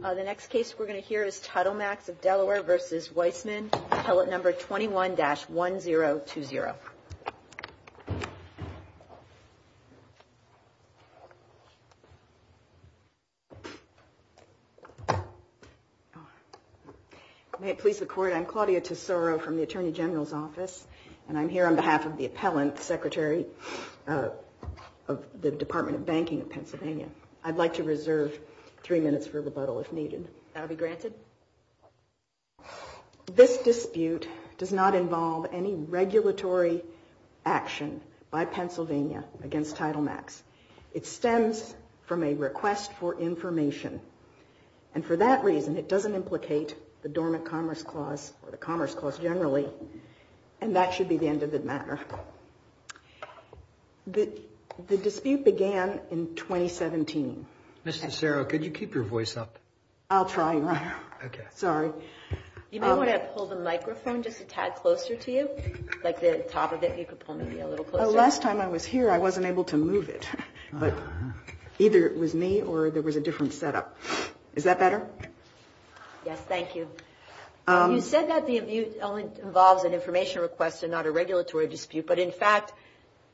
The next case we're going to hear is Titlemax of Delaware v. Weissmann, Appellant Number 21-1020. May it please the Court, I'm Claudia Tesoro from the Attorney General's Office, and I'm here on behalf of the Appellant Secretary of the Department of Banking of Pennsylvania. I'd like to reserve three minutes for rebuttal if needed. That will be granted. This dispute does not involve any regulatory action by Pennsylvania against Titlemax. It stems from a request for information, and for that reason it doesn't implicate the Dormant Commerce Clause or the Commerce Clause generally, and that should be the end of the matter. The dispute began in 2017. Mr. Tesoro, could you keep your voice up? I'll try, Your Honor. Okay. Sorry. You may want to pull the microphone just a tad closer to you, like the top of it. You could pull maybe a little closer. Last time I was here, I wasn't able to move it. But either it was me or there was a different setup. Is that better? Yes, thank you. You said that the amusement involves an information request and not a regulatory dispute, but in fact,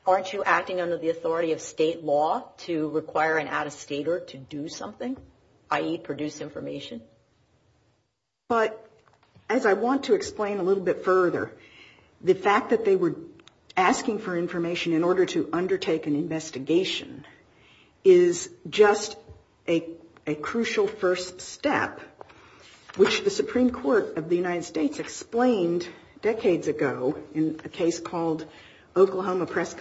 aren't you acting under the authority of state law to require an out-of-stater to do something, i.e., produce information? But as I want to explain a little bit further, the fact that they were asking for information in order to undertake an investigation is just a crucial first step, which the Supreme Court of the United States explained decades ago in a case called Oklahoma Press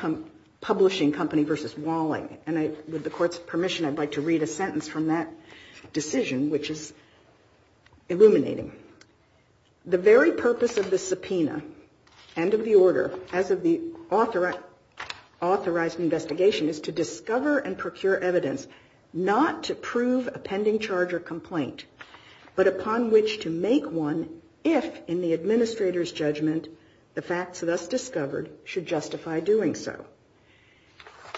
Publishing Company v. Walling. And with the Court's permission, I'd like to read a sentence from that decision, which is illuminating. The very purpose of the subpoena and of the order, as of the authorized investigation, is to discover and procure evidence not to prove a pending charge or complaint, but upon which to make one if, in the administrator's judgment, the facts thus discovered should justify doing so.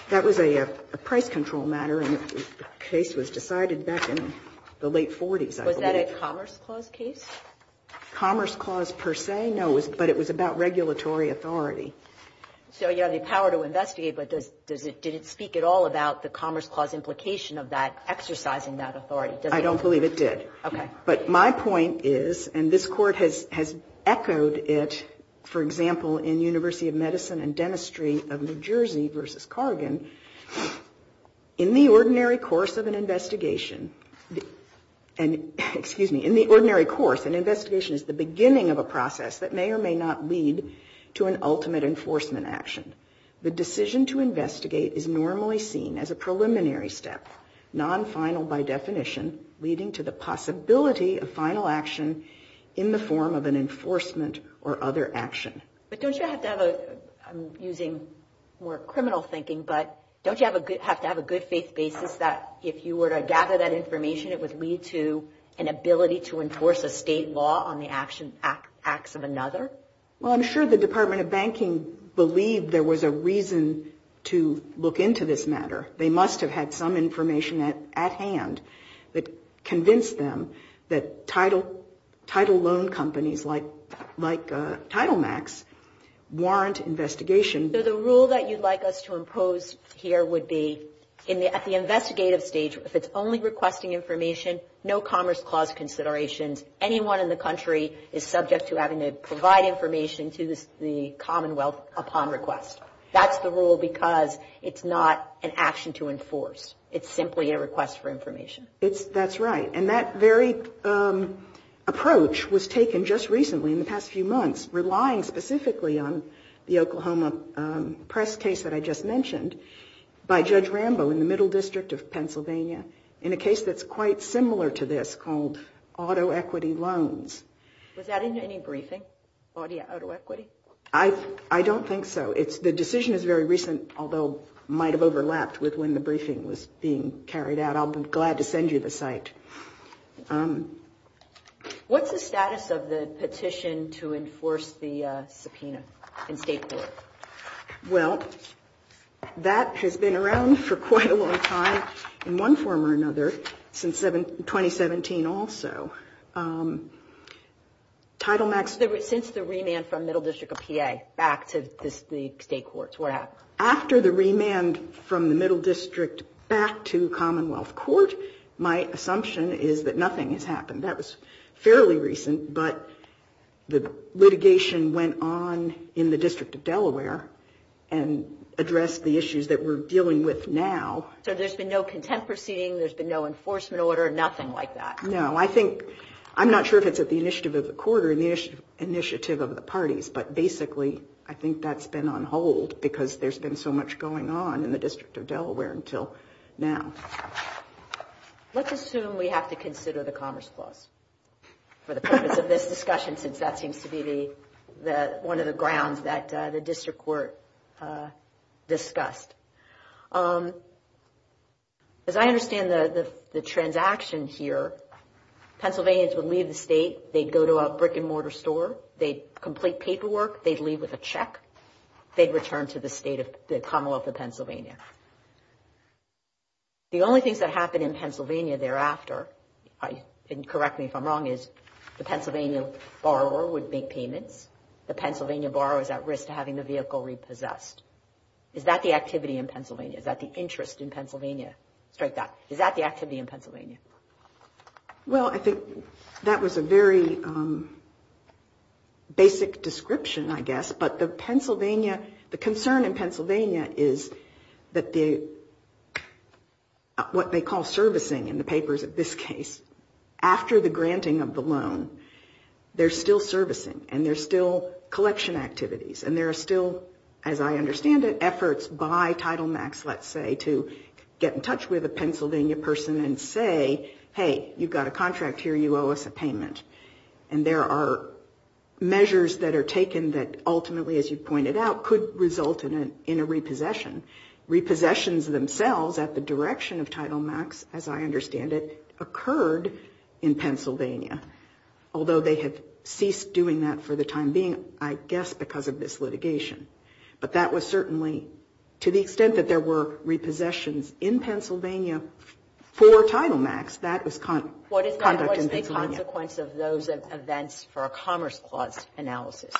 That was a price control matter, and the case was decided back in the late 40s, I believe. Sotomayor, is that a Commerce Clause case? Commerce Clause, per se, no, but it was about regulatory authority. So you have the power to investigate, but does it speak at all about the Commerce Clause implication of that, exercising that authority? I don't believe it did. Okay. But my point is, and this Court has echoed it, for example, in University of Medicine and Dentistry of New Jersey v. Cargan, in the ordinary course of an investigation is the beginning of a process that may or may not lead to an ultimate enforcement action. The decision to investigate is normally seen as a preliminary step, non-final by definition, leading to the possibility of final action in the form of an enforcement or other action. But don't you have to have a, I'm using more criminal thinking, but don't you have to have a good faith basis that if you were to gather that information, it would lead to an ability to enforce a state law on the acts of another? Well, I'm sure the Department of Banking believed there was a reason to look into this matter. They must have had some information at hand that convinced them that title loan companies like TitleMax warrant investigation. So the rule that you'd like us to impose here would be at the investigative stage, if it's only requesting information, no Commerce Clause considerations, anyone in the country is subject to having to provide information to the Commonwealth upon request. That's the rule because it's not an action to enforce. It's simply a request for information. That's right, and that very approach was taken just recently in the past few months, relying specifically on the Oklahoma press case that I just mentioned by Judge Rambo in the middle district of Pennsylvania in a case that's quite similar to this called auto equity loans. Was that in any briefing, auto equity? I don't think so. The decision is very recent, although it might have overlapped with when the briefing was being carried out. I'll be glad to send you the site. What's the status of the petition to enforce the subpoena in state court? Well, that has been around for quite a long time in one form or another since 2017 also. Since the remand from middle district of PA back to the state courts, what happened? After the remand from the middle district back to Commonwealth Court, my assumption is that nothing has happened. That was fairly recent, but the litigation went on in the district of Delaware and addressed the issues that we're dealing with now. So there's been no contempt proceeding, there's been no enforcement order, nothing like that? No, I think I'm not sure if it's at the initiative of the court or the initiative of the parties, but basically I think that's been on hold because there's been so much going on in the district of Delaware until now. Let's assume we have to consider the Commerce Clause for the purpose of this discussion, since that seems to be one of the grounds that the district court discussed. As I understand the transaction here, Pennsylvanians would leave the state, they'd go to a brick-and-mortar store, they'd complete paperwork, they'd leave with a check, they'd return to the Commonwealth of Pennsylvania. The only things that happen in Pennsylvania thereafter, and correct me if I'm wrong, is the Pennsylvania borrower would make payments, the Pennsylvania borrower is at risk of having the vehicle repossessed. Is that the activity in Pennsylvania? Is that the interest in Pennsylvania? Strike that. Is that the activity in Pennsylvania? Well, I think that was a very basic description, I guess, but the Pennsylvania, the concern in Pennsylvania is that the, what they call servicing in the papers in this case, after the granting of the loan, there's still servicing, and there's still collection activities, and there are still, as I understand it, efforts by Title Max, let's say, to get in touch with a Pennsylvania person and say, hey, you've got a contract here, you owe us a payment, and there are measures that are taken that ultimately, as you pointed out, could result in a repossession, repossessions themselves at the direction of Title Max, as I understand it, occurred in Pennsylvania, although they had ceased doing that for the time being, I guess because of this litigation, but that was certainly, to the extent that there were repossessions in Pennsylvania for Title Max, that was conduct in Pennsylvania. And so, I think that's the consequence of those events for a Commerce Clause analysis.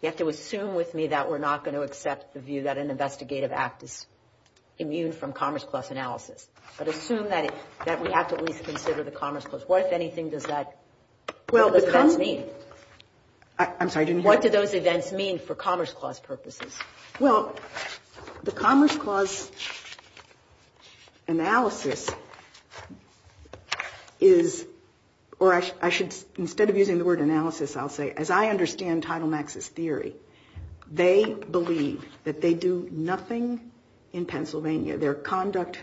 You have to assume with me that we're not going to accept the view that an investigative act is immune from Commerce Clause analysis, but assume that we have to at least consider the Commerce Clause. What, if anything, does that mean? And what do those events mean for Commerce Clause purposes? Well, the Commerce Clause analysis is, or I should, instead of using the word analysis, I'll say, as I understand Title Max's theory, they believe that they do nothing in Pennsylvania, their conduct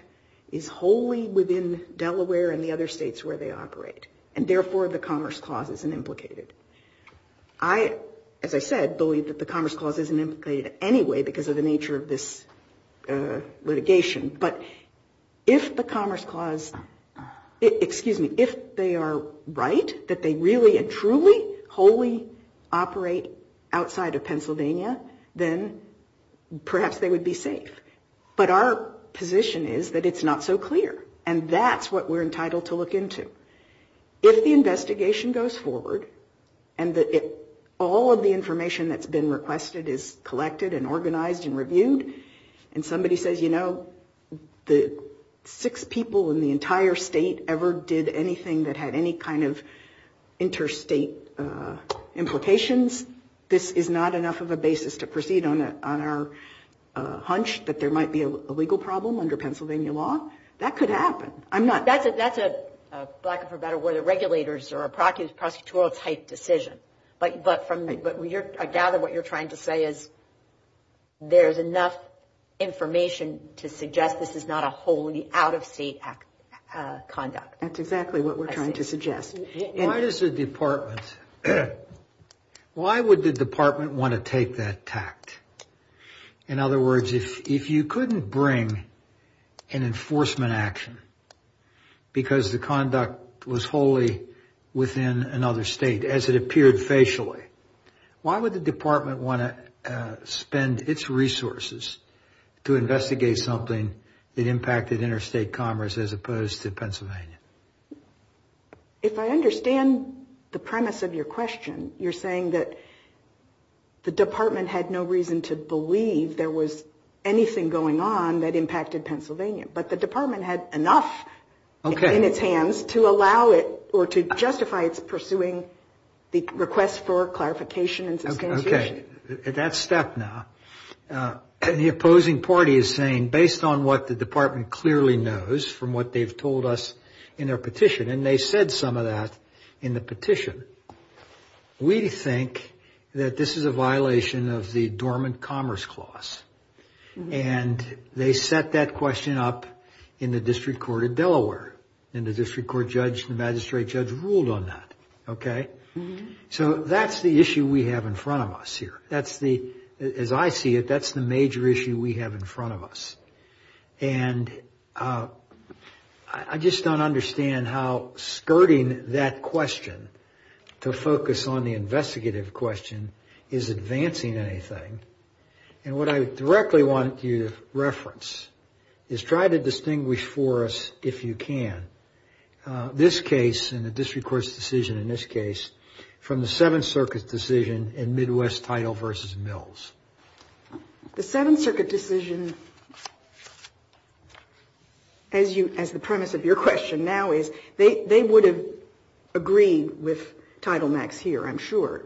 is wholly within Delaware and the other states where they operate, and therefore, the Commerce Clause isn't implicated. They, as I said, believe that the Commerce Clause isn't implicated anyway because of the nature of this litigation. But if the Commerce Clause, excuse me, if they are right, that they really and truly, wholly operate outside of Pennsylvania, then perhaps they would be safe. But our position is that it's not so clear, and that's what we're entitled to look into. If the investigation goes forward and all of the information that's been requested is collected and organized and reviewed, and somebody says, you know, the six people in the entire state ever did anything that had any kind of interstate implications, this is not enough of a basis to proceed on our hunch that there might be a legal problem under Pennsylvania law, that could happen. I'm not... That's a, for lack of a better word, a regulator's or a prosecutorial type decision. But I gather what you're trying to say is there's enough information to suggest this is not a wholly out-of-state conduct. Why does the Department, why would the Department want to take that tact? In other words, if you couldn't bring an enforcement action because the conduct was wholly within another state, as it appeared facially, why would the Department want to spend its resources to investigate something that impacted interstate commerce as opposed to Pennsylvania? If I understand the premise of your question, you're saying that the Department had no reason to believe there was anything going on that impacted Pennsylvania, but the Department had enough in its hands to allow it or to justify its pursuing the request for clarification and substantiation. At that step now, the opposing party is saying, based on what the Department clearly knows from what they've told us in their petition, and they said some of that in the petition, we think that this is a violation of the dormant commerce clause. And they set that question up in the District Court of Delaware. And the District Court judge and magistrate judge ruled on that. So that's the issue we have in front of us here. As I see it, that's the major issue we have in front of us. And I just don't understand how skirting that question to focus on the investigative question is advancing anything. And what I directly want you to reference is try to distinguish for us, if you can, this case in the District Court's decision in this case, from the Seventh Circuit's decision in Midwest Title v. Mills. The Seventh Circuit decision, as the premise of your question now is, they would have agreed with Title Max here, I'm sure.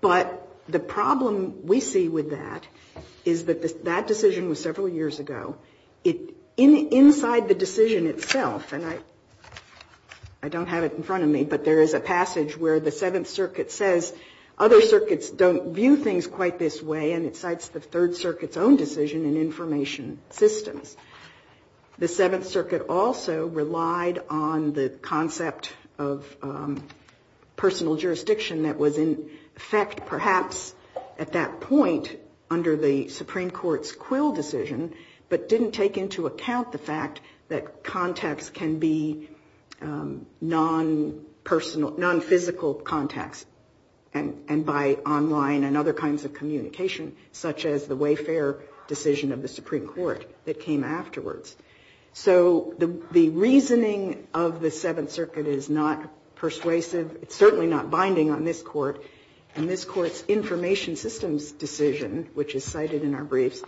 But the problem we see with that is that that decision was several years ago. Inside the decision itself, and I don't have it in front of me, but there is a passage that states that Title Max was a decision of the Third Circuit. And there is a passage where the Seventh Circuit says other circuits don't view things quite this way, and it cites the Third Circuit's own decision in information systems. The Seventh Circuit also relied on the concept of personal jurisdiction that was in effect perhaps at that point under the Supreme Court, and that jurisdiction was defined by personal, nonphysical contacts, and by online and other kinds of communication, such as the Wayfair decision of the Supreme Court that came afterwards. So the reasoning of the Seventh Circuit is not persuasive. It's certainly not binding on this Court. And this Court's information systems decision, which is cited in our briefs,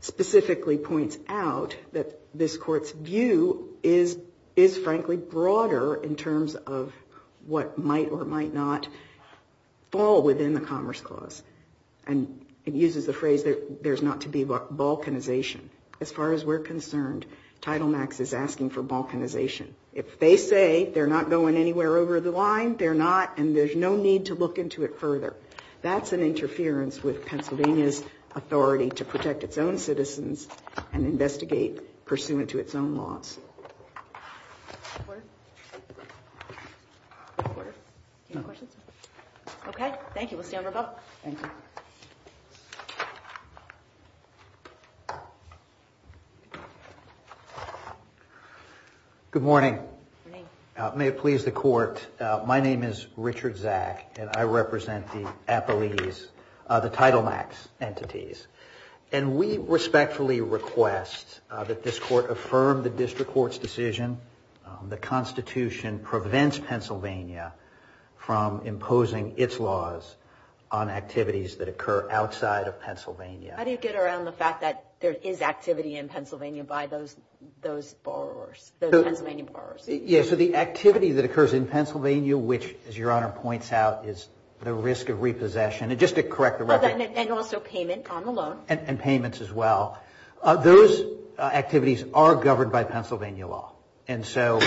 specifically points out that this Court's view is, frankly, broader in terms of what might or might not fall within the Commerce Clause. And it uses the phrase there's not to be balkanization. As far as we're concerned, Title Max is asking for balkanization. If they say they're not going anywhere over the line, they're not, and there's no need to look into it further. That's an interference with Pennsylvania's authority to protect its own citizens and investigate pursuant to its own laws. Okay. Thank you. We'll stand for a vote. Good morning. May it please the Court. My name is Richard Zak, and I represent the appellees, the Title Max entities. And we respectfully request that this Court affirm the District Court's decision that the Constitution prevents Pennsylvania from imposing its laws on activities that occur outside of Pennsylvania. How do you get around the fact that there is activity in Pennsylvania by those borrowers, those Pennsylvania borrowers? Yes, so the activity that occurs in Pennsylvania, which, as Your Honor points out, is the risk of repossession. And just to correct the record. And also payment on the loan. And payments as well. Those activities are governed by Pennsylvania law. And so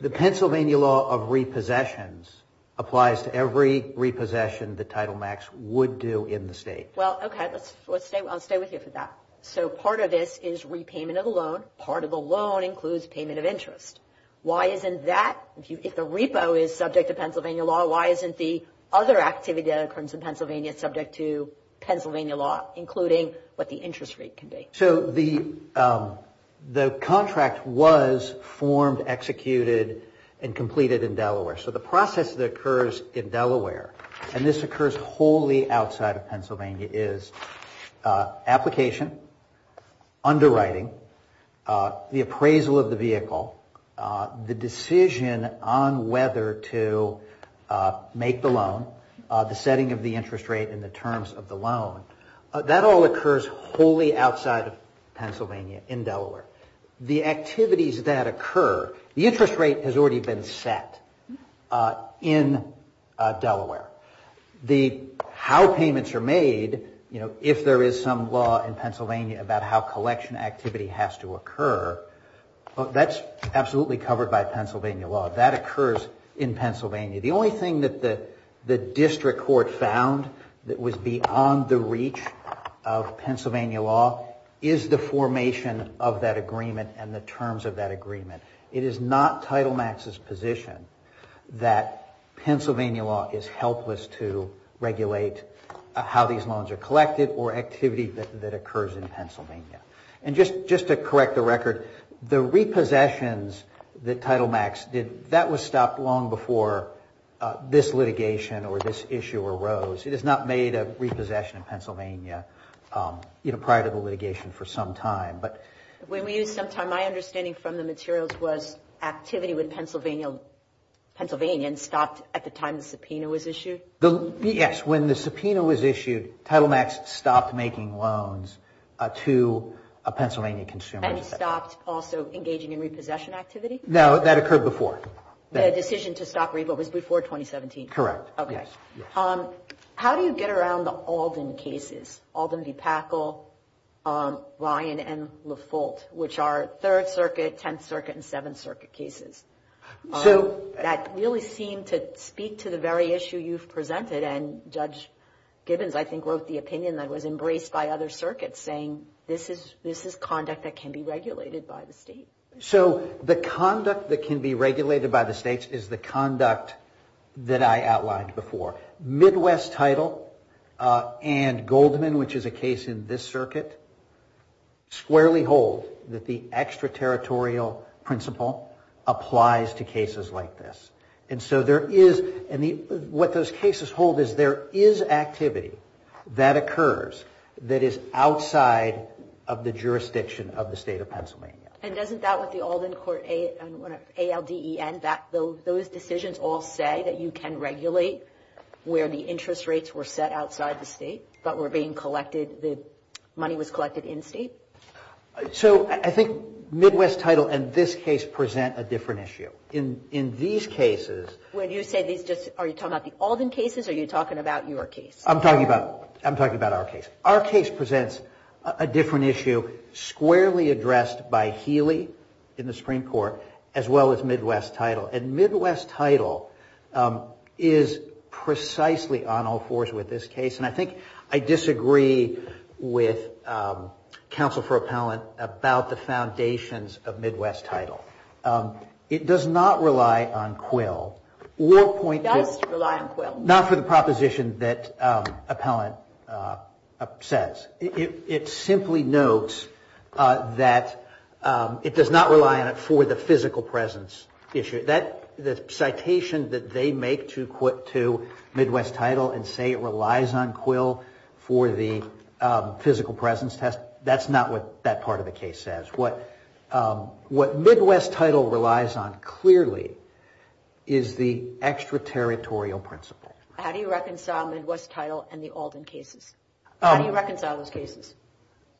the Pennsylvania law of repossessions applies to every repossession the Title Max would do in the state. Well, okay. I'll stay with you for that. So part of this is repayment of the loan. Part of the loan includes payment of interest. Why isn't that, if the repo is subject to Pennsylvania law, why isn't the other activity that occurs in Pennsylvania subject to Pennsylvania law, including what the interest rate can be? So the contract was formed, executed, and completed in Delaware. So the process that occurs in Delaware, and this occurs wholly outside of Pennsylvania, is application, underwriting, the appraisal of the vehicle, the decision on whether to make the loan, the setting of the interest rate and the terms of the loan, that all occurs wholly outside of Pennsylvania in Delaware. The activities that occur, the interest rate has already been set in Delaware. The how payments are made, you know, if there is some law in Pennsylvania about how collection activity has to occur, that's absolutely covered by Pennsylvania law. That occurs in Pennsylvania. The only thing that the district court found that was beyond the reach of Pennsylvania law is the formation of that agreement and the terms of that agreement. It is not Title Max's position that Pennsylvania law is helpless to regulate how these loans are collected or activity that occurs in Pennsylvania. And just to correct the record, the repossessions that Title Max did, that was stopped long before this litigation or this issue arose. It is not made a repossession in Pennsylvania, you know, prior to the litigation for some time. But... It stopped making loans to a Pennsylvania consumer. And stopped also engaging in repossession activity? No, that occurred before. The decision to stop repo was before 2017? Correct. How do you get around the Alden cases, Alden v. Packel, Ryan v. La Folt, which are Third Circuit, Tenth Circuit, and Seventh Circuit cases? That really seem to speak to the very issue you've presented. And Judge Gibbons, I think, wrote the opinion that was embraced by other circuits, saying this is conduct that can be regulated by the state. So the conduct that can be regulated by the states is the conduct that I outlined before. Midwest Title and Goldman, which is a case in this circuit, squarely hold that the extraterritorial principle applies to cases like this. And so there is, and what those cases hold is there is activity that occurs that is outside of the jurisdiction of the state of Pennsylvania. And doesn't that with the Alden court, ALDEN, those decisions all say that you can regulate where the interest rates were set outside the state, but were being collected, the money was collected in state? So I think Midwest Title and this case present a different issue. In these cases. When you say these, are you talking about the Alden cases or are you talking about your case? I'm talking about our case. Our case presents a different issue, squarely addressed by Healy in the Supreme Court, as well as Midwest Title. And Midwest Title is precisely on all fours with this case. And I think I disagree with counsel for appellant about the foundations of Midwest Title. It does not rely on Quill. Not for the proposition that appellant says. It simply notes that it does not rely on it for the physical presence issue. The citation that they make to Midwest Title and say it relies on Quill for the physical presence test, that's not what that part of the case says. What Midwest Title relies on clearly is the extraterritorial principle. How do you reconcile Midwest Title and the Alden cases?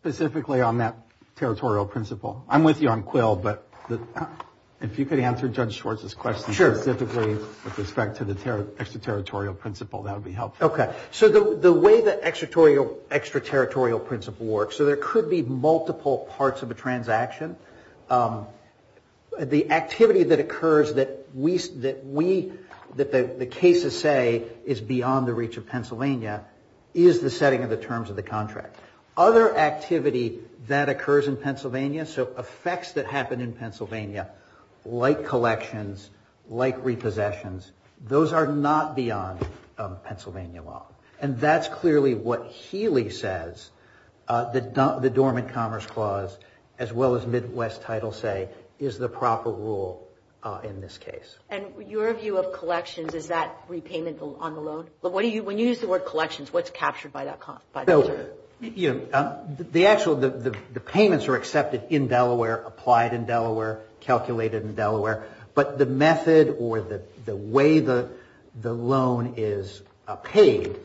Specifically on that territorial principle. I'm with you on Quill, but if you could answer Judge Schwartz's question specifically with respect to the extraterritorial principle, that would be helpful. Okay. So the way the extraterritorial principle works. So there could be multiple parts of a transaction. The activity that occurs that we, that the cases say is beyond the reach of Pennsylvania is the setting of the terms of the contract. Other activity that occurs in Pennsylvania, so effects that happen in Pennsylvania, like collections, like repossessions, those are not beyond Pennsylvania law. And that's clearly what Healy says, the Dormant Commerce Clause, as well as Midwest Title say is the proper rule in this case. And your view of collections, is that repayment on the loan? When you use the word collections, what's captured by that? The payments are accepted in Delaware, applied in Delaware, calculated in Delaware, but the method or the way the loan is paid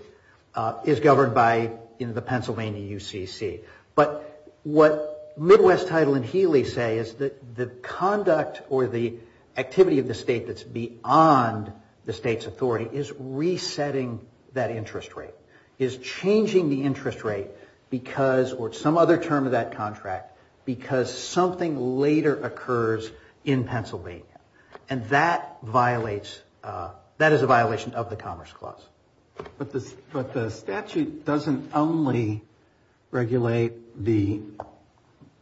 is governed by the Pennsylvania UCC. But what Midwest Title and Healy say is that the conduct or the activity of the state that's beyond the state's authority is resetting that interest rate, is changing the interest rate because, or some other term of that contract, because something later occurs in Pennsylvania. And that violates, that is a violation of the Commerce Clause. But the statute doesn't only regulate the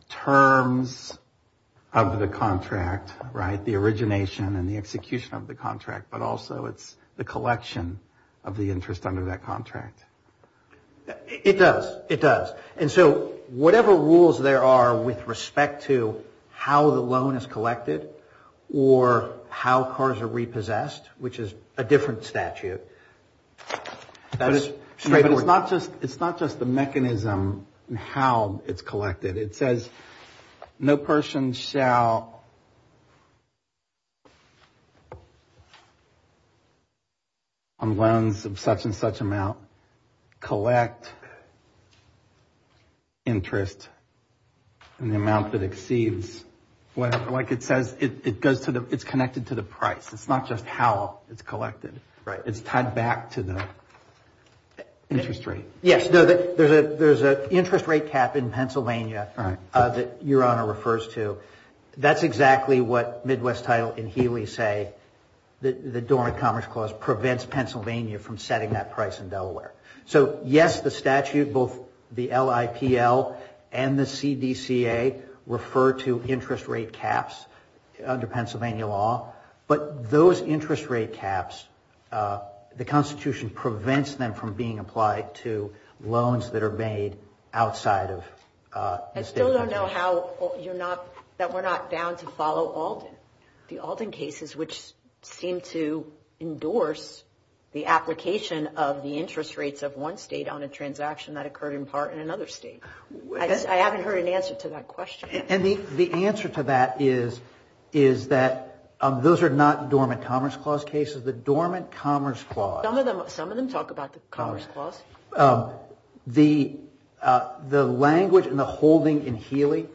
terms of the contract, right? The origination and the execution of the contract, but also it's the collection of the interest under that contract. It does. It does. And so whatever rules there are with respect to how the loan is collected, or how cars are repossessed, which is a different statute. It's not just the mechanism and how it's collected. It says no person shall, on loans of such and such amount, collect interest in the amount that exceeds, whatever. It's connected to the price. It's not just how it's collected. It's tied back to the interest rate. There's an interest rate cap in Pennsylvania that Your Honor refers to. That's exactly what Midwest Title and Healy say, that the Dormant Commerce Clause prevents Pennsylvania from setting that price in Delaware. So yes, the statute, both the LIPL and the CDCA, refer to interest rate caps under Pennsylvania law. But those interest rate caps, the Constitution prevents them from being applied to loans that are made outside of the state of Pennsylvania. I still don't know how you're not, that we're not bound to follow Alden. The Alden cases, which seem to endorse the application of the interest rates of one state on a transaction that occurred in part in another state. I haven't heard an answer to that question. And the answer to that is that those are not Dormant Commerce Clause cases. The Dormant Commerce Clause. Some of them talk about the Commerce Clause. The language and the holding in Healy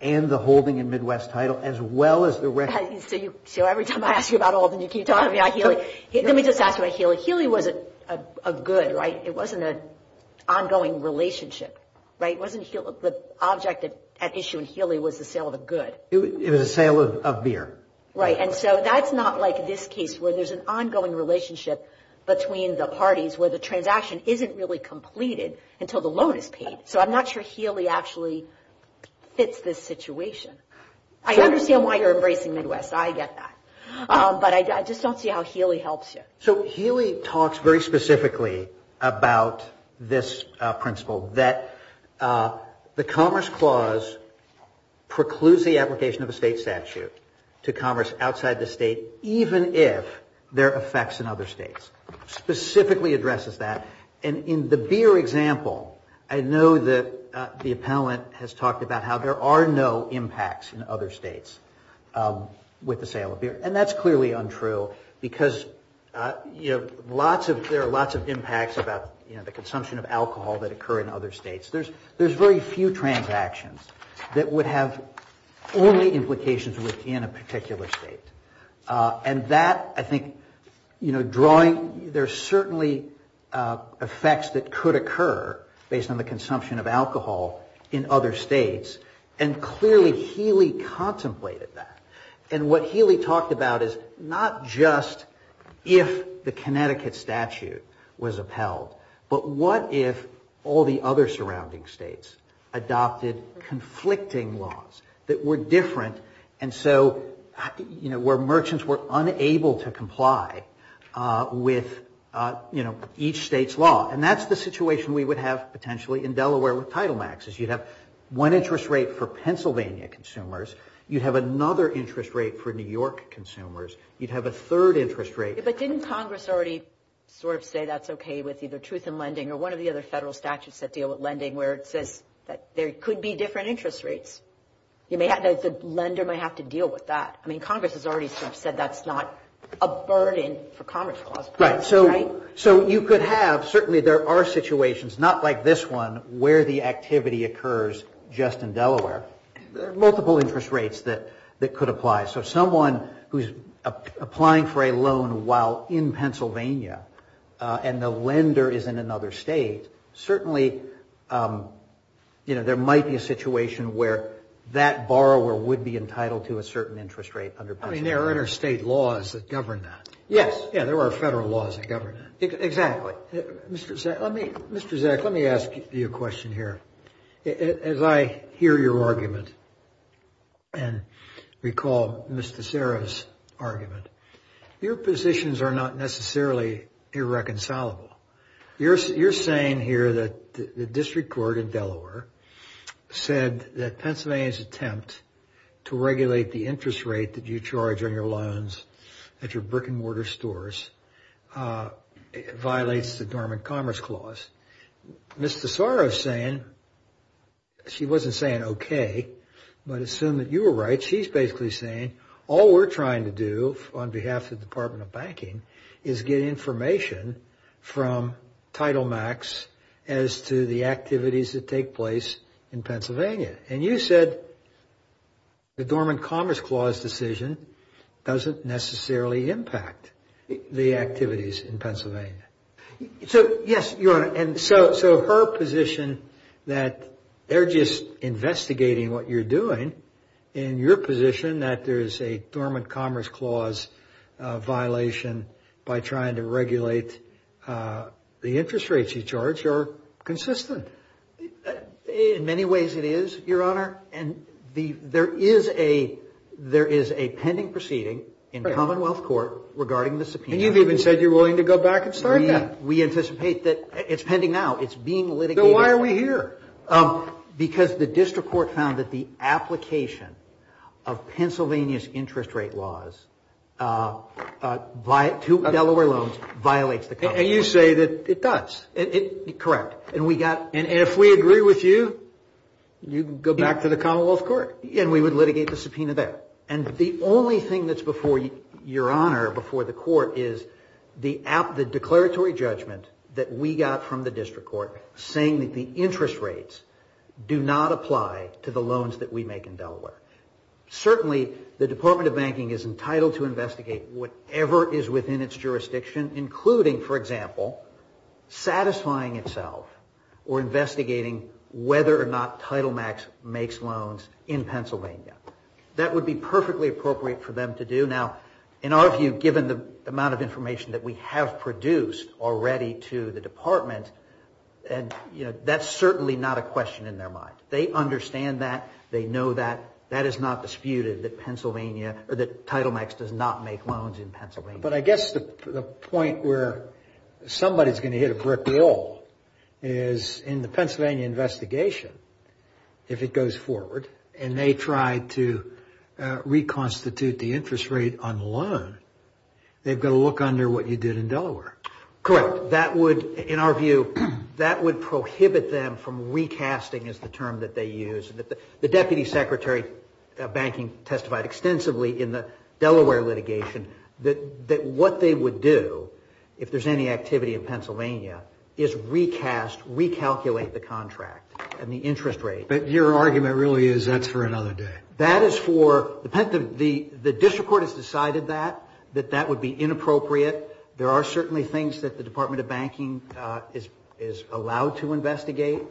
and the holding in Midwest Title, as well as the record. So every time I ask you about Alden, you keep talking about Healy. Let me just ask you about Healy. Healy was a good, right? It wasn't an ongoing relationship, right? The object at issue in Healy was the sale of a good. It was a sale of beer. Right. And so that's not like this case, where there's an ongoing relationship between the parties where the transaction isn't really completed until the loan is paid. So I'm not sure Healy actually fits this situation. I understand why you're embracing Midwest. I get that. But I just don't see how Healy helps you. So Healy talks very specifically about this principle that the Commerce Clause precludes the application of a state statute to commerce outside the state, even if there are effects in other states. Specifically addresses that. And in the beer example, I know that the appellant has talked about how there are no impacts in other states with the sale of beer. And that's clearly untrue, because there are lots of impacts about the consumption of alcohol that occur in other states. There's very few transactions that would have only implications within a particular state. And that, I think, you know, drawing, there's certainly effects that could occur based on the consumption of alcohol in other states. And clearly Healy contemplated that. And what Healy talked about is not just if the Connecticut statute was upheld, but what if all the other surrounding states adopted conflicting laws that were different, and so, you know, where merchants were unable to comply with, you know, each state's law. And that's the situation we would have potentially in Delaware with Title Max, is you'd have one interest rate for Pennsylvania consumers. You'd have another interest rate for New York consumers. You'd have a third interest rate. But didn't Congress already sort of say that's okay with either truth in lending or one of the other federal statutes that deal with lending where it says that there could be different interest rates? The lender might have to deal with that. I mean, Congress has already sort of said that's not a burden for Commerce Clause. Right? So you could have, certainly there are situations, not like this one, where the activity occurs just in Delaware. There are multiple interest rates that could apply. So someone who's applying for a loan while in Pennsylvania, and the lender is in another state, certainly, you know, there might be a situation where that borrower would be entitled to a certain interest rate under Pennsylvania. I mean, there are interstate laws that govern that. Yes. Yeah, there are federal laws that govern that. Exactly. Mr. Zack, let me ask you a question here. As I hear your argument and recall Mr. Sarah's argument, your positions are not necessarily irreconcilable. You're saying here that the district court in Delaware said that Pennsylvania's attempt to regulate the interest rate that you charge on your loans at your brick and mortar stores violates the Dormant Commerce Clause. Mr. Sarah is saying, she wasn't saying OK, but assume that you were right. She's basically saying all we're trying to do on behalf of the Department of Banking is get information from Title Max as to the activities that take place in Pennsylvania. And you said the Dormant Commerce Clause decision doesn't necessarily impact the activities in Pennsylvania. So, yes, Your Honor, and so her position that they're just investigating what you're doing and your position that there is a Dormant Commerce Clause violation by trying to regulate the interest rates you charge are inconsistent? In many ways it is, Your Honor. And there is a pending proceeding in Commonwealth Court regarding the subpoena. And you've even said you're willing to go back and start that. We anticipate that it's pending now. It's being litigated. So why are we here? Because the district court found that the application of Pennsylvania's interest rate laws to Delaware loans violates the Commonwealth. And you say that it does. And if we agree with you, you can go back to the Commonwealth Court. And we would litigate the subpoena there. And the only thing that's before Your Honor, before the court, is the declaratory judgment that we got from the district court saying that the interest rates do not apply to the loans that we make in Delaware. Certainly, the Department of Banking is entitled to investigate whatever is within its jurisdiction, including, for example, satisfying itself or investigating whether or not Title Max makes loans in Pennsylvania. That would be perfectly appropriate for them to do. Now, in our view, given the amount of evidence, that's certainly not a question in their mind. They understand that. They know that. That is not disputed, that Pennsylvania or that Title Max does not make loans in Pennsylvania. But I guess the point where somebody is going to hit a brick wall is in the Pennsylvania investigation, if it goes forward and they try to reconstitute the interest rate on the loan, they've got to look under what you did in Delaware. Correct. That would, in our view, that would prohibit them from recasting is the term that they use. The Deputy Secretary of Banking testified extensively in the Delaware litigation that what they would do, if there's any activity in Pennsylvania, is recast, recalculate the contract and the interest rate. But your argument really is that's for another day. The district court has decided that, that that would be inappropriate. There are certainly things that the Department of Banking is allowed to investigate.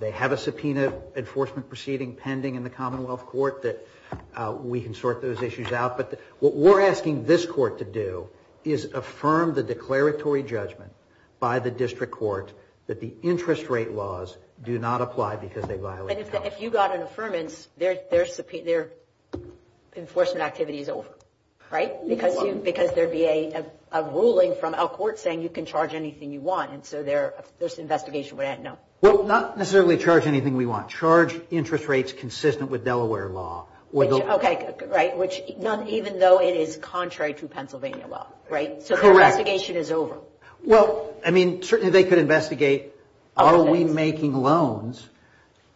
They have a subpoena enforcement proceeding pending in the Commonwealth Court that we can sort those issues out. But what we're asking this court to do is affirm the declaratory judgment by the district court that the interest rate laws do not apply because they violate the And if you got an affirmance, their enforcement activity is over. Right? Because there'd be a ruling from our court saying you can charge anything you want. And so their investigation would end. No. Well, not necessarily charge anything we want. Charge interest rates consistent with Delaware law. OK. Right. Which even though it is contrary to Pennsylvania law. Right. So the investigation is over. Well, I mean, certainly they could investigate are we making loans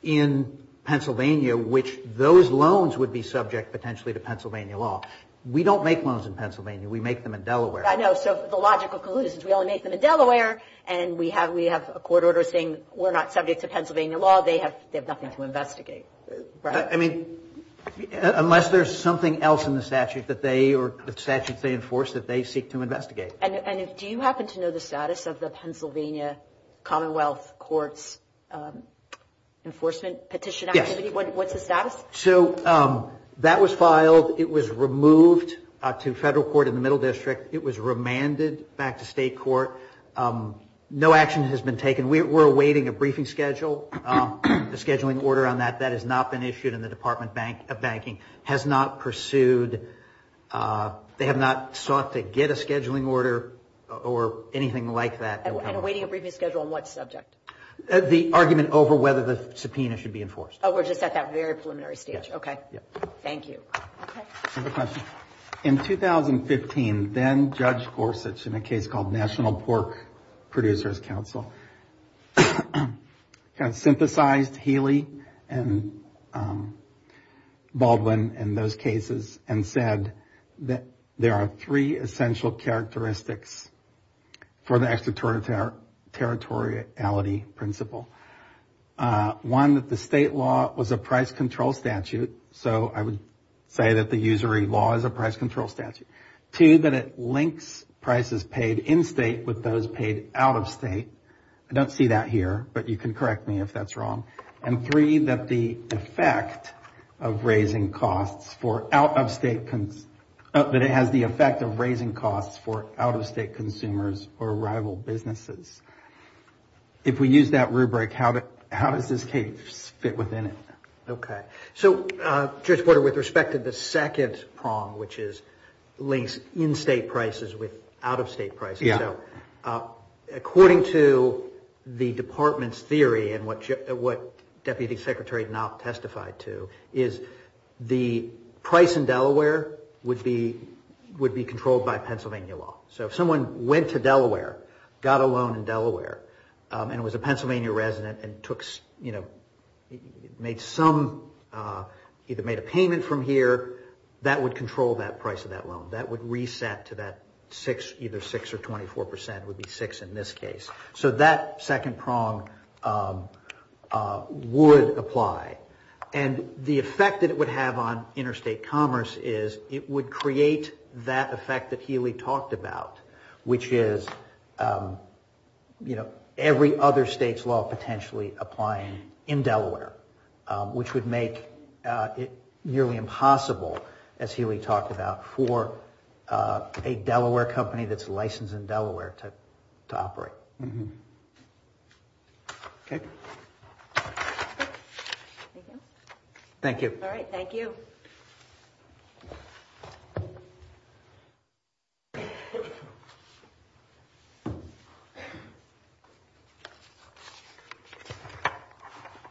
in Pennsylvania, which those loans would be subject potentially to Pennsylvania law. We don't make loans in Pennsylvania. We make them in Delaware. I know. So the logical conclusion is we only make them in Delaware. And we have we have a court order saying we're not subject to Pennsylvania law. They have nothing to investigate. Right. I mean, unless there's something else in the statute that they or the statutes they enforce that they seek to investigate. And do you happen to know the status of the Pennsylvania Commonwealth Courts enforcement petition? What's the status? So that was filed. It was removed to federal court in the middle district. It was remanded back to state court. No action has been taken. We're awaiting a briefing schedule, a scheduling order on that. That has not been issued in the Department of Banking has not pursued. They have not sought to get a scheduling order or anything like that. And awaiting a briefing schedule on what subject? The argument over whether the subpoena should be enforced. Oh, we're just at that very preliminary stage. OK. Thank you. In 2015, then Judge Gorsuch in a case called National Pork Producers Council synthesized Healy and Baldwin in those cases and said that there are three essential characteristics for the extraterritoriality principle. One, that the state law was a price control statute. So prices paid in-state with those paid out-of-state. I don't see that here, but you can correct me if that's wrong. And three, that the effect of raising costs for out-of-state, that it has the effect of raising costs for out-of-state consumers or rival businesses. If we use that rubric, how does this case fit within it? OK. So Judge Porter, with respect to the second prong, which links in-state prices with out-of-state prices. According to the department's theory, and what Deputy Secretary Knopp testified to, is the price in Delaware would be controlled by Pennsylvania law. So if someone went to Delaware, got a loan in Delaware, and was a Pennsylvania resident and made some, either made a payment from here, that would control that price of that loan. That would reset to that six, either six or 24 percent, would be six in this case. So that second prong would apply. And the effect that it would have on interstate commerce is it would create that effect that Healy talked about, which is every other state's law potentially applying in Delaware, which would make it nearly impossible, as Healy talked about, for a Delaware company that's licensed in Delaware to operate. Thank you. I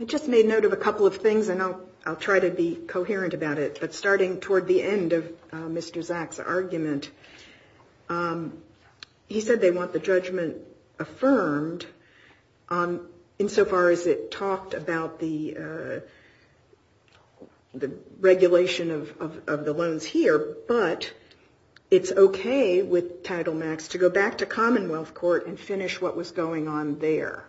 just made note of a couple of things, and I'll try to be coherent about it. But starting toward the end of Mr. Zack's argument, he said they want the judgment affirmed, insofar as it talked about the regulation of the loans here. But it's OK with Title IX to go back to Commonwealth Court and finish what was going on there.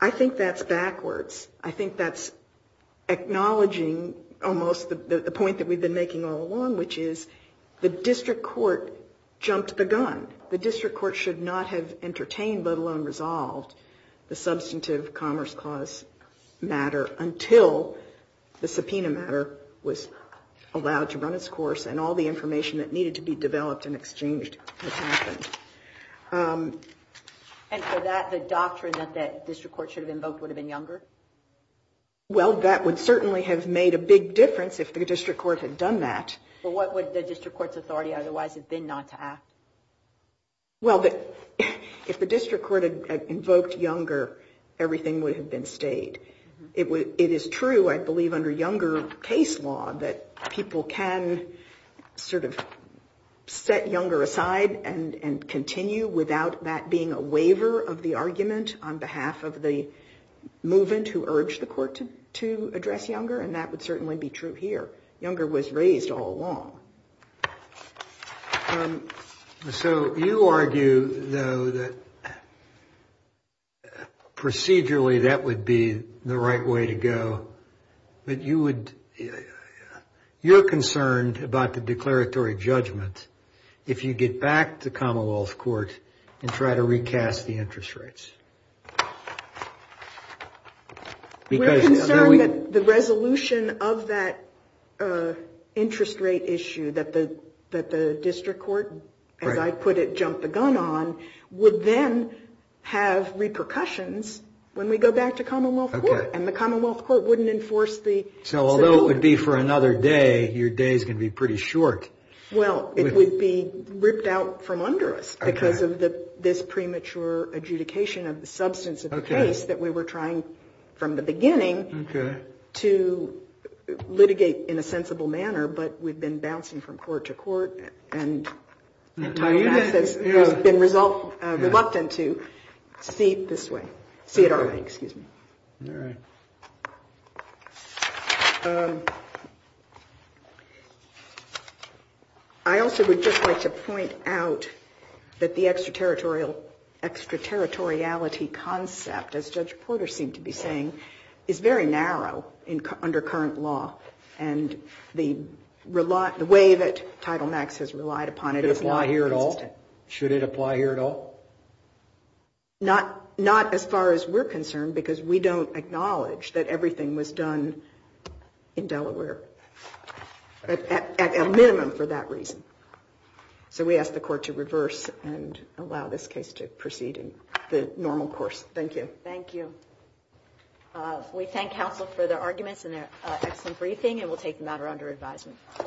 I think that's backwards. I think that's acknowledging almost the point that we've been making all along, which is the district court jumped the gun. The district court should not have entertained, let alone resolved, the substantive commerce clause matter until the subpoena matter was resolved. And for that, the doctrine that the district court should have invoked would have been younger? Well, that would certainly have made a big difference if the district court had done that. But what would the district court's authority otherwise have been not to act? Well, if the district court had invoked younger, everything would have been state. It is true, I believe, under younger case law that people can sort of set younger aside and continue without that being a waiver of the argument on behalf of the movement who urged the court to address younger, and that would certainly be true here. Younger was raised all along. So you argue, though, that procedurally that would be the right way to go. But you're concerned about the declaratory judgment if you get back to Commonwealth Court and try to recast the interest rates. We're concerned that the resolution of that interest rate issue that the district court, as I put it, jumped the gun on, would then have repercussions when we go back to Commonwealth Court. And the Commonwealth Court wouldn't enforce the... So although it would be for another day, your day is going to be pretty short. Well, it would be ripped out from under us because of this premature adjudication of the substance of the case that we were trying from the beginning to litigate in a sensible manner. But we've been bouncing from court to court and have been reluctant to see it this way. See it our way, excuse me. I also would just like to point out that the extraterritorial concept, as Judge Porter seemed to be saying, is very narrow under current law. And the way that Title Max has relied upon it is not consistent. Should it apply here at all? Not as far as we're concerned because we don't acknowledge that everything was done in Delaware. At a minimum for that reason. So we ask the court to reverse and allow this case to proceed in the normal course. Thank you. Thank you. We thank counsel for their arguments and their excellent briefing and we'll take the matter under advisement.